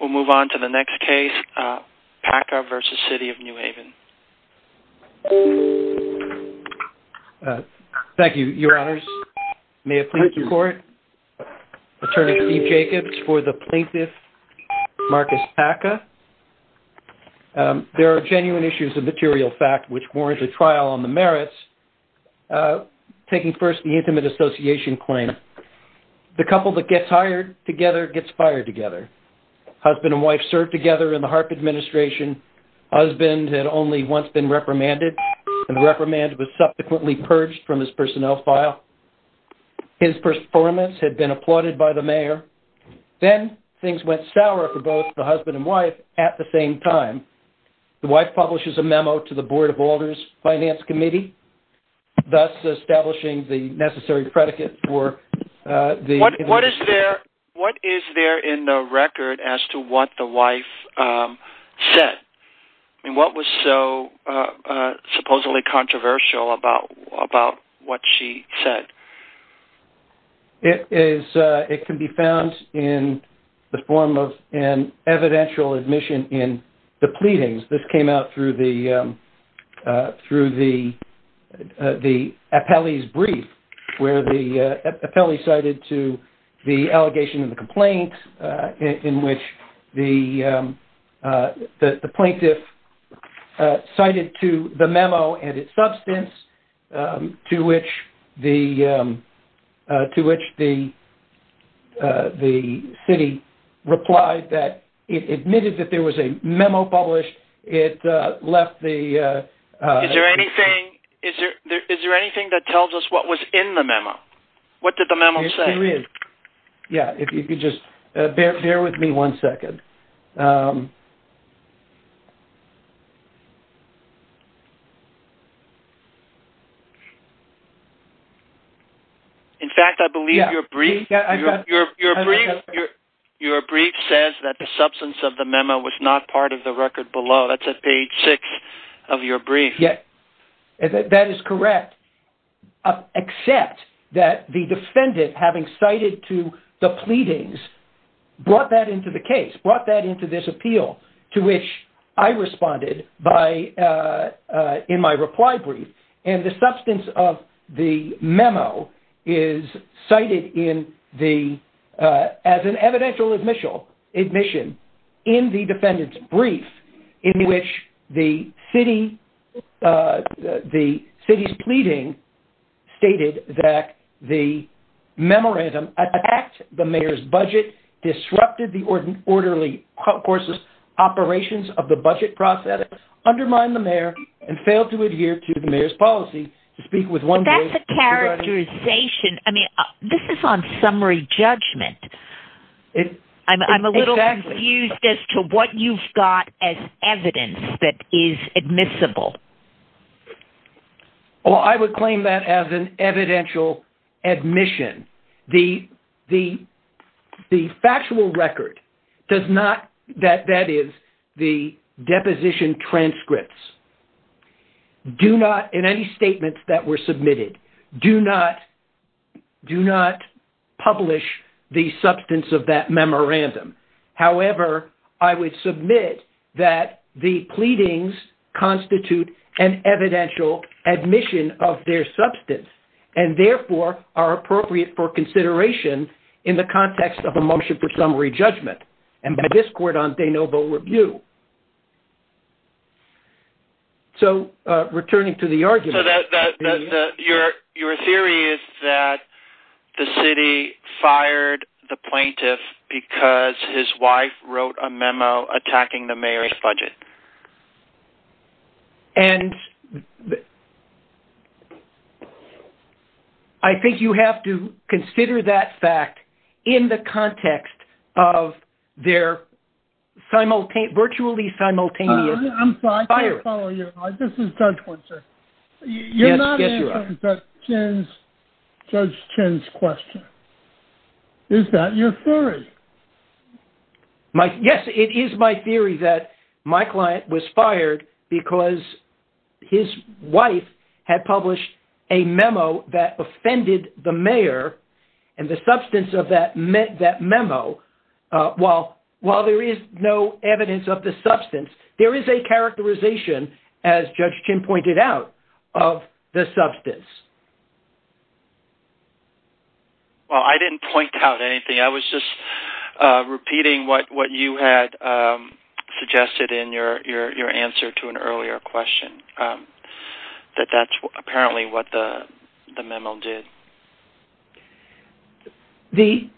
We'll move on to the next case, Paca v. City of New Haven. Thank you, Your Honors. May it please the Court, Attorney Steve Jacobs for the plaintiff, Marcus Paca. There are genuine issues of material fact which warrant a trial on the merits. Taking first the intimate association claim, the couple that gets hired together gets fired together. Husband and wife served together in the Harp Administration. Husband had only once been reprimanded, and reprimand was subsequently purged from his personnel file. His performance had been applauded by the mayor. Then things went sour for both the husband and wife at the same time. The wife publishes a memo to the Board of Boulders Finance Committee, thus establishing the necessary predicate for the... What is there in the record as to what the wife said? What was so supposedly controversial about what she said? It can be found in the form of an evidential admission in the pleadings. This came out through the appellee's brief, where the appellee cited to the allegation of the complaint, in which the plaintiff cited to the memo and its substance, to which the city replied that it admitted that there was a memo published. It left the... Is there anything that tells us what was in the memo? What did the memo say? Yes, there is. Yeah. If you could just bear with me one second. In fact, I believe your brief says that the substance of the memo was not part of the record below. That's at page six of your brief. That is correct, except that the defendant, having cited to the pleadings, brought that into the case, brought that into this appeal, to which I responded in my reply brief. And the substance of the memo is cited as an evidential admission in the defendant's brief, in which the city's pleading stated that the memorandum attacked the mayor's budget, disrupted the orderly process, operations of the budget process, undermined the mayor, and failed to adhere to the mayor's policy to speak with one voice. That's a characterization. I mean, this is on summary judgment. I'm a little confused as to what you've got as evidence that is admissible. Well, I would claim that as an evidential admission. The factual record does not, that is, the deposition transcripts, do not, in any statements that were submitted, do not publish the substance of that memorandum. However, I would submit that the pleadings constitute an evidential admission of their substance, and therefore are appropriate for consideration in the context of a motion for summary judgment, and by this court on de novo review. So returning to the argument. So your theory is that the city fired the plaintiff because his wife wrote a memo attacking the mayor's budget. And I think you have to consider that fact in the context of their virtually simultaneous firing. I'm sorry. I can't follow you. This is Judge Winsor. Yes, you are. You're not answering Judge Chin's question. Is that your theory? Yes, it is my theory that my client was fired because his wife had published a memo that offended the mayor, and the substance of that memo, while there is no evidence of the substance, there is a characterization, as Judge Chin pointed out, of the substance. Well, I didn't point out anything. I was just repeating what you had suggested in your answer to an earlier question, that that's apparently what the memo did. The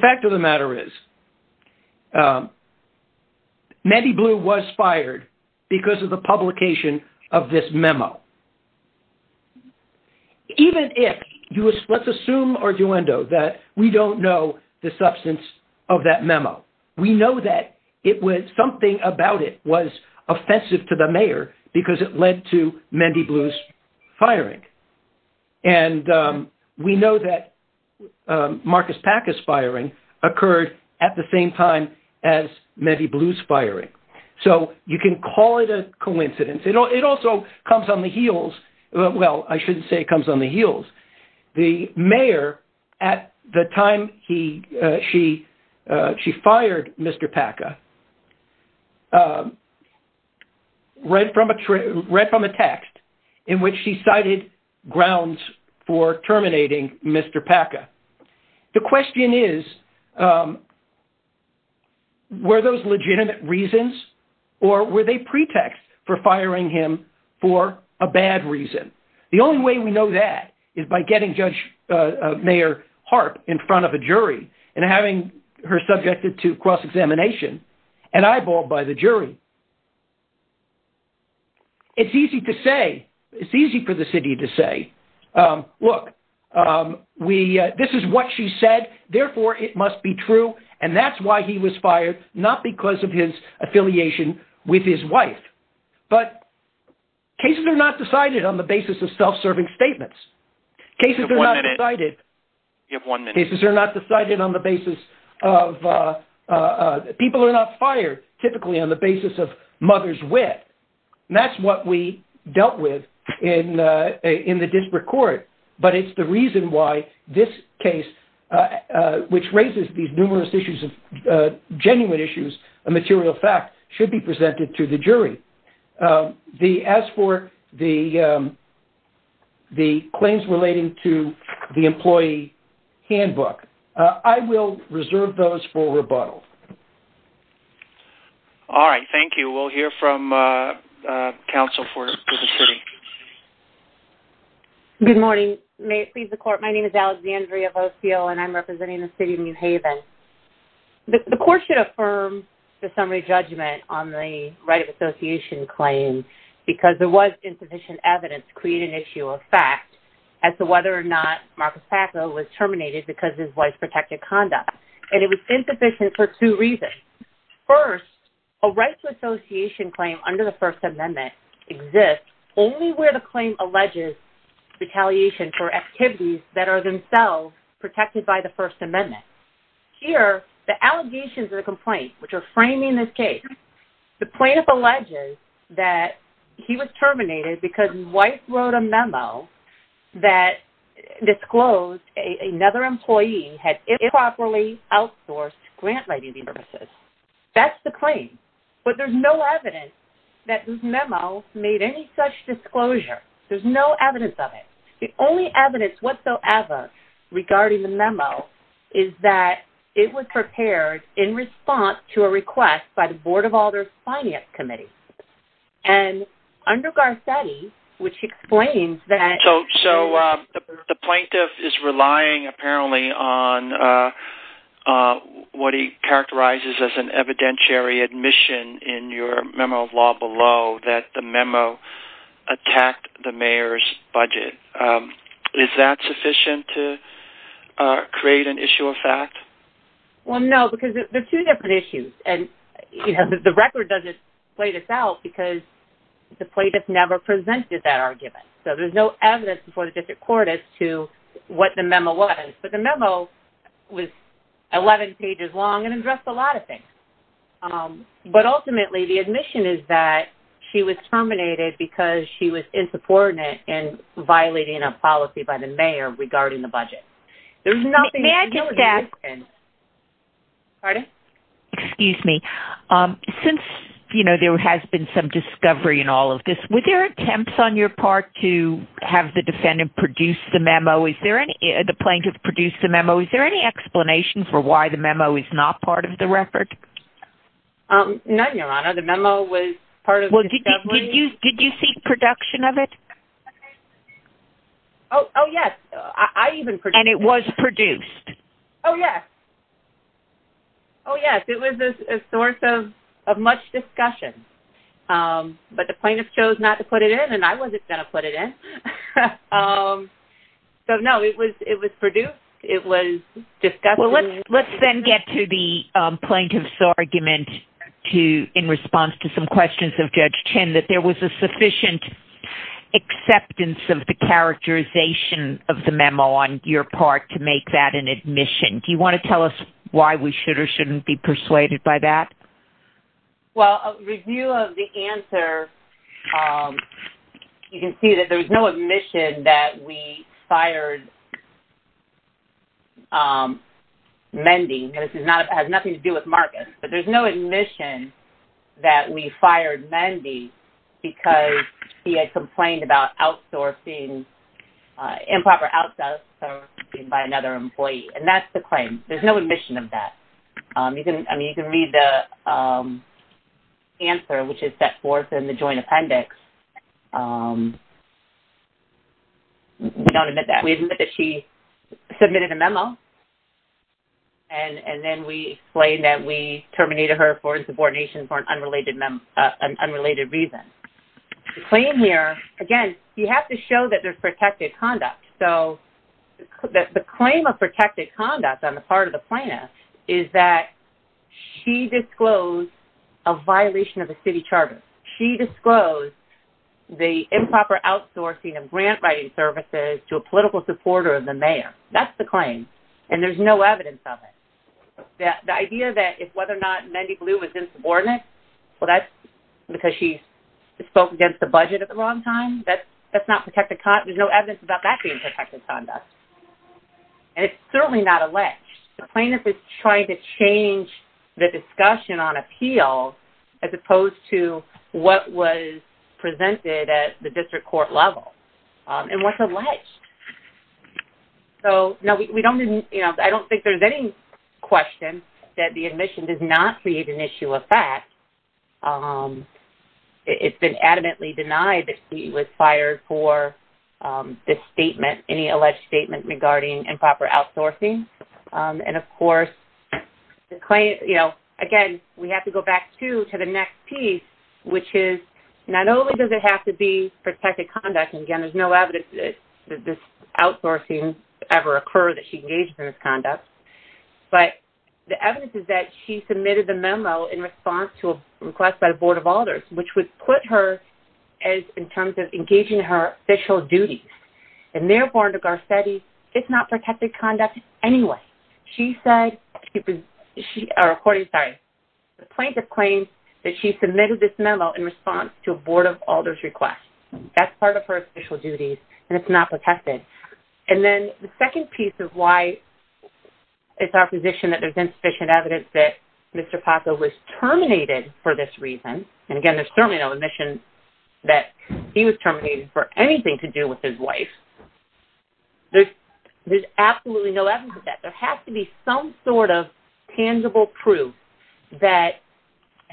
fact of the matter is, Mandy Blue was fired because of the publication of this memo. Even if, let's assume, Arduendo, that we don't know the substance of that memo, we know that it was something about it was offensive to the mayor because it led to Mandy Blue's firing. And we know that Marcus Paca's firing occurred at the same time as Mandy Blue's firing. So you can call it a coincidence. It also comes on the heels, well, I shouldn't say it comes on the heels. The mayor, at the time she fired Mr. Paca, read from a text in which she cited grounds for terminating Mr. Paca. The question is, were those legitimate reasons, or were they pretexts for firing him for a bad reason? The only way we know that is by getting Judge Mayor Harp in front of a jury and having her subjected to cross-examination and eyeballed by the jury. It's easy to say, it's easy for the city to say, look, this is what she said, therefore it must be true, and that's why he was fired, not because of his affiliation with his wife. But cases are not decided on the basis of self-serving statements. Cases are not decided on the basis of, people are not fired typically on the basis of mother's wit. And that's what we dealt with in the district court. But it's the reason why this case, which raises these numerous issues of, genuine issues of material fact, should be presented to the jury. As for the claims relating to the employee handbook, I will reserve those for rebuttal. All right, thank you. We'll hear from counsel for the city. Good morning. May it please the court, my name is Alexandria Vosiel, and I'm representing the city of New Haven. The court should affirm the summary judgment on the right of association claim, because there was insufficient evidence to create an issue of fact as to whether or not Marcus Paco was terminated because of his wife's protected conduct. And it was insufficient for two reasons. First, a right to association claim under the First Amendment exists only where the claim alleges retaliation for activities that are themselves protected by the First Amendment. Here, the allegations of the complaint, which are framing this case, the plaintiff alleges that he was terminated because his wife wrote a memo that disclosed another employee had improperly outsourced grant writing services. That's the claim. But there's no evidence that this memo made any such disclosure. There's no evidence of it. The only evidence whatsoever regarding the memo is that it was prepared in response to a request by the Board of Alders Finance Committee. And under Garcetti, which explains that... So the plaintiff is relying apparently on what he characterizes as an evidentiary admission in your memo of law below that the memo attacked the mayor's budget. Is that sufficient to create an issue of fact? Well, no, because there's two different issues. And the record doesn't play this out because the plaintiff never presented that argument. So there's no evidence before the district court as to what the memo was. But the memo was 11 pages long and addressed a lot of things. But ultimately, the admission is that she was terminated because she was insubordinate in violating a policy by the mayor regarding the budget. There's nothing... May I just ask... Pardon? Excuse me. Since, you know, there has been some discovery in all of this, were there attempts on your part to have the defendant produce the memo? Is there any...the plaintiff produced the memo. Is there any explanation for why the memo is not part of the record? None, Your Honor. The memo was part of the discovery. Well, did you see production of it? Oh, yes. I even produced it. And it was produced? Oh, yes. Oh, yes. It was a source of much discussion. But the plaintiff chose not to put it in, and I wasn't going to put it in. So, no, it was produced. It was discussed. Well, let's then get to the plaintiff's argument in response to some questions of Judge Chin that there was a sufficient acceptance of the characterization of the memo on your part to make that an admission. Do you want to tell us why we should or shouldn't be persuaded by that? Well, a review of the answer, you can see that there was no admission that we fired Mendy. This has nothing to do with Marcus. But there's no admission that we fired Mendy because he had complained about outsourcing, improper outsourcing by another employee. And that's the claim. There's no admission of that. I mean, you can read the answer, which is set forth in the joint appendix. We don't admit that. We admit that she submitted a memo, and then we explain that we terminated her for insubordination for an unrelated reason. The claim here, again, you have to show that there's protected conduct. So, the claim of protected conduct on the part of the plaintiff is that she disclosed a violation of the city charter. She disclosed the improper outsourcing of grant writing services to a political supporter of the mayor. That's the claim. And there's no evidence of it. The idea that whether or not Mendy Blue was insubordinate, well, that's because she spoke against the budget at the wrong time. That's not protected conduct. There's no evidence about that being protected conduct. And it's certainly not alleged. The plaintiff is trying to change the discussion on appeal as opposed to what was presented at the district court level and what's alleged. So, no, we don't, you know, I don't think there's any question that the admission does not create an issue of fact. It's been adamantly denied that she was fired for this statement, any alleged statement regarding improper outsourcing. And, of course, the claim, you know, again, we have to go back, too, to the next piece, which is not only does it have to be protected conduct, and again, there's no evidence that this outsourcing ever occurred, that she engaged in this conduct, but the evidence is that she submitted the memo in response to a request by the Board of Alders, which would put her as, in terms of engaging her official duties. And therefore, under Garcetti, it's not protected conduct anyway. She said, she, or according, sorry, the plaintiff claims that she submitted this memo in response to a Board of Alders request. That's part of her official duties, and it's not protected. And then the second piece of why it's our position that there's insufficient evidence that Mr. Paco was terminated for this reason, and again, there's certainly no admission that he was terminated for anything to do with his wife, there's absolutely no evidence of that. There has to be some sort of tangible proof that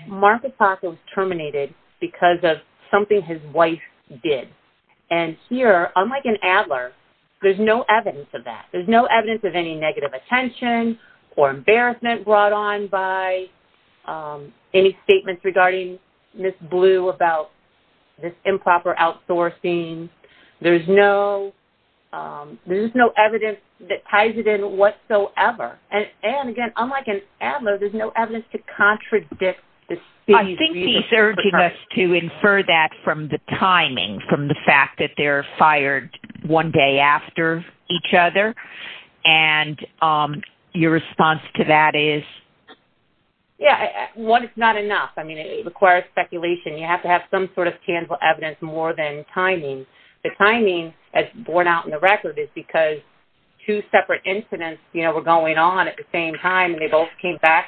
Mark Paco was terminated because of something his wife did. And here, unlike in Adler, there's no evidence of that. There's no evidence of any negative attention or embarrassment brought on by any statements regarding Ms. Blue about this improper outsourcing. There's no evidence that ties it in whatsoever. And again, unlike in Adler, there's no evidence to contradict this. I think he's urging us to infer that from the timing, from the fact that they're fired one day after each other. And your response to that is? Yeah, one, it's not enough. I mean, it requires speculation. You have to have some sort of tangible evidence more than timing. The timing, as borne out in the record, is because two separate incidents, you know, were going on at the same time, and they both came back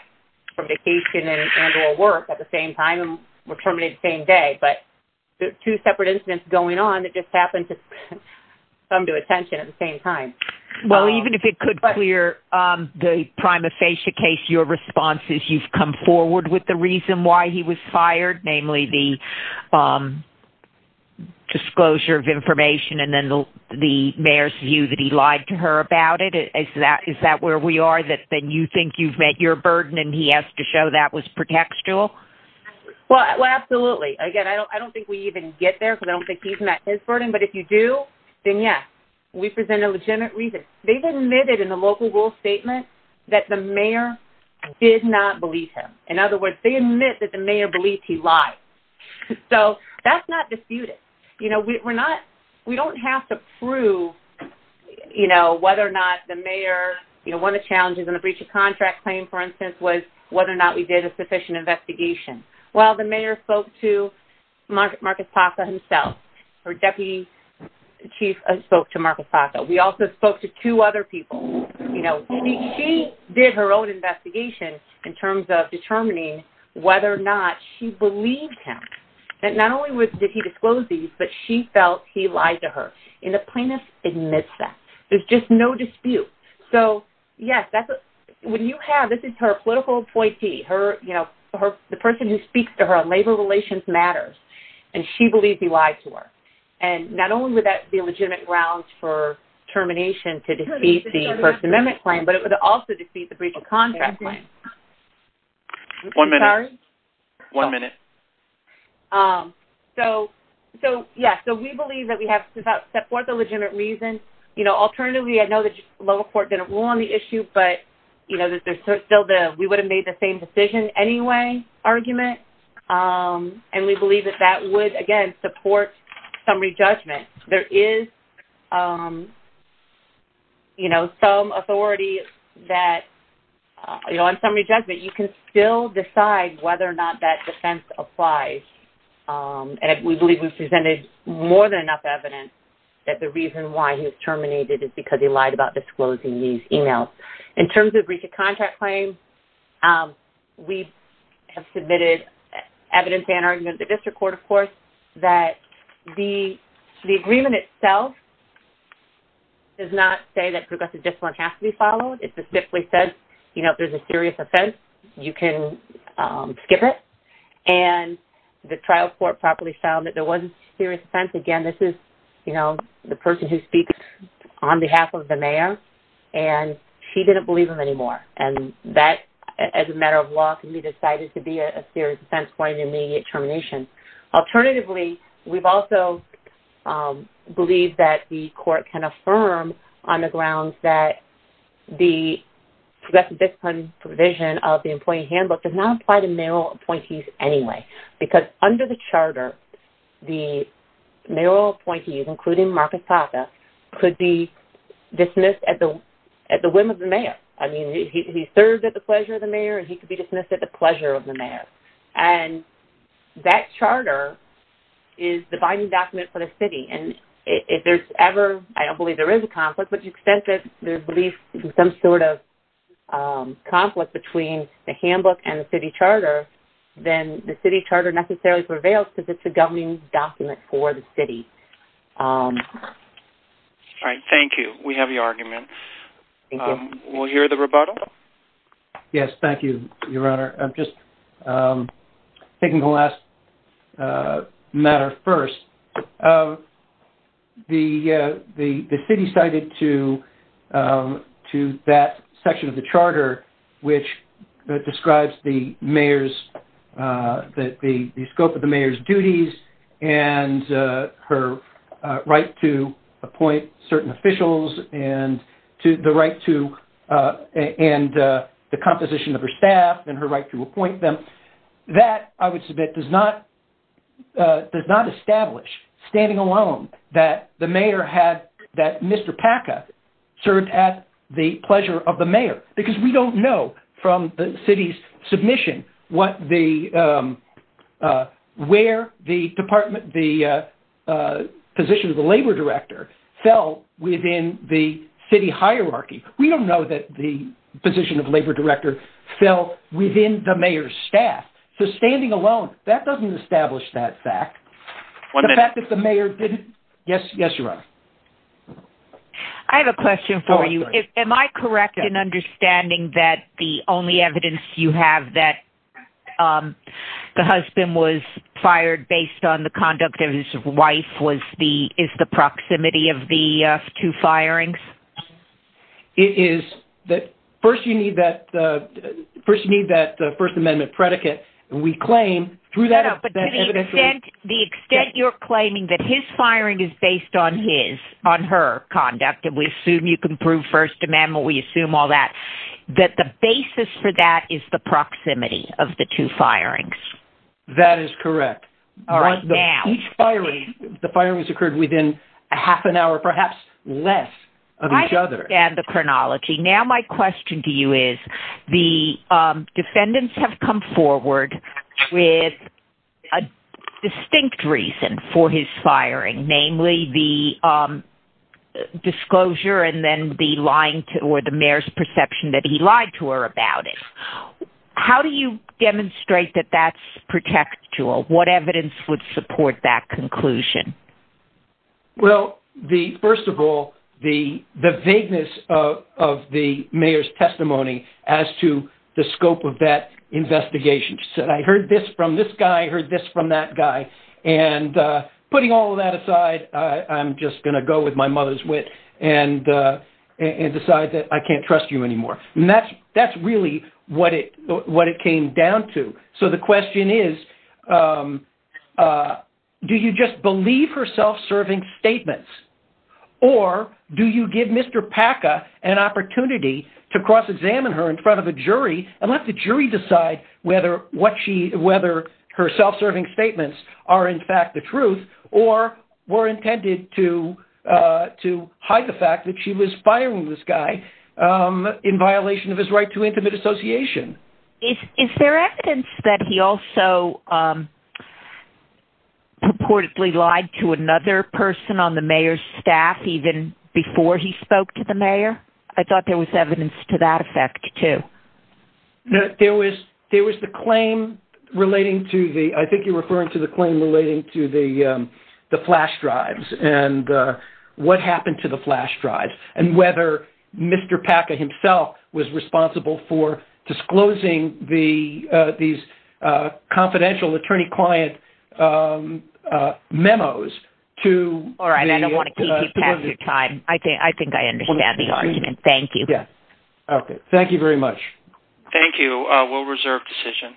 from vacation and work at the same time and were terminated the same day. But two separate incidents going on that just happened to come to attention at the same time. Well, even if it could clear the prima facie case, your response is you've come forward with the reason why he was fired, namely the disclosure of information and then the mayor's view that he lied to her about it. Is that where we are, that you think you've met your burden and he has to show that was pretextual? Well, absolutely. Again, I don't think we even get there because I don't think he's met his burden. But if you do, then, yes, we present a legitimate reason. They've admitted in the local rule statement that the mayor did not believe him. In other words, they admit that the mayor believes he lied. So that's not disputed. You know, we don't have to prove, you know, whether or not the mayor, you know, one of the challenges in the breach of contract claim, for instance, was whether or not we did a sufficient investigation. Well, the mayor spoke to Marcus Paco himself. Her deputy chief spoke to Marcus Paco. We also spoke to two other people. You know, she did her own investigation in terms of determining whether or not she believed him. And not only did he disclose these, but she felt he lied to her. And the plaintiff admits that. There's just no dispute. So, yes, when you have, this is her political appointee, her, you know, the person who speaks to her on labor relations matters, and she believes he lied to her. And not only would that be a legitimate grounds for termination to defeat the First Amendment claim, but it would also defeat the breach of contract claim. One minute. Sorry? One minute. So, yes, so we believe that we have to support the legitimate reason. You know, alternatively, I know the local court didn't rule on the issue, but, you know, there's still the we would have made the same decision anyway argument. And we believe that that would, again, support summary judgment. There is, you know, some authority that, you know, on summary judgment, you can still decide whether or not that defense applies. And we believe we've presented more than enough evidence that the reason why he was terminated is because he lied about disclosing these emails. In terms of breach of contract claim, we have submitted evidence and argument to the district court, of course, that the agreement itself does not say that progressive discipline has to be followed. It specifically says, you know, if there's a serious offense, you can skip it. And the trial court properly found that there was a serious offense. Again, this is, you know, the person who speaks on behalf of the mayor, and she didn't believe him anymore. And that, as a matter of law, can be decided to be a serious offense for an immediate termination. Alternatively, we've also believed that the court can affirm on the grounds that the progressive discipline provision of the employee handbook does not apply to mayoral appointees anyway. Because under the charter, the mayoral appointees, including Marcus Papa, could be dismissed at the whim of the mayor. I mean, he served at the pleasure of the mayor, and he could be dismissed at the pleasure of the mayor. And that charter is the binding document for the city. And if there's ever, I don't believe there is a conflict, but to the extent that there's belief in some sort of conflict between the handbook and the city charter, then the city charter necessarily prevails because it's a governing document for the city. All right, thank you. We have your argument. We'll hear the rebuttal. Yes, thank you, Your Honor. Just taking the last matter first, the city cited to that section of the charter which describes the scope of the mayor's duties and her right to appoint certain officials and the composition of her staff and her right to appoint them. That, I would submit, does not establish, standing alone, that Mr. Packa served at the pleasure of the mayor where the position of the labor director fell within the city hierarchy. We don't know that the position of labor director fell within the mayor's staff. So, standing alone, that doesn't establish that fact. The fact that the mayor didn't. Yes, Your Honor. I have a question for you. Am I correct in understanding that the only evidence you have that the husband was fired based on the conduct of his wife is the proximity of the two firings? It is. First, you need that First Amendment predicate. We claim through that evidence. No, but to the extent you're claiming that his firing is based on his, on her conduct, and we assume you can prove First Amendment, we assume all that, that the basis for that is the proximity of the two firings. That is correct. Right now. The firings occurred within half an hour, perhaps less, of each other. I understand the chronology. Now my question to you is the defendants have come forward with a distinct reason for his firing, namely the disclosure and then the lying, or the mayor's perception that he lied to her about it. How do you demonstrate that that's protectual? What evidence would support that conclusion? Well, first of all, the vagueness of the mayor's testimony as to the scope of that investigation. She said, I heard this from this guy, I heard this from that guy, and putting all of that aside, I'm just going to go with my mother's wit and decide that I can't trust you anymore. And that's really what it came down to. So the question is, do you just believe her self-serving statements, or do you give Mr. Packa an opportunity to cross-examine her in front of a jury and let the jury decide whether her self-serving statements are in fact the truth or were intended to hide the fact that she was firing this guy in violation of his right to intimate association? Is there evidence that he also purportedly lied to another person on the mayor's staff even before he spoke to the mayor? I thought there was evidence to that effect, too. There was the claim relating to the flash drives and what happened to the flash drives and whether Mr. Packa himself was responsible for disclosing these confidential attorney-client memos to the subpoena. All right. I don't want to keep you past your time. I think I understand the argument. Thank you. Okay. Thank you very much. Thank you. We'll reserve decision.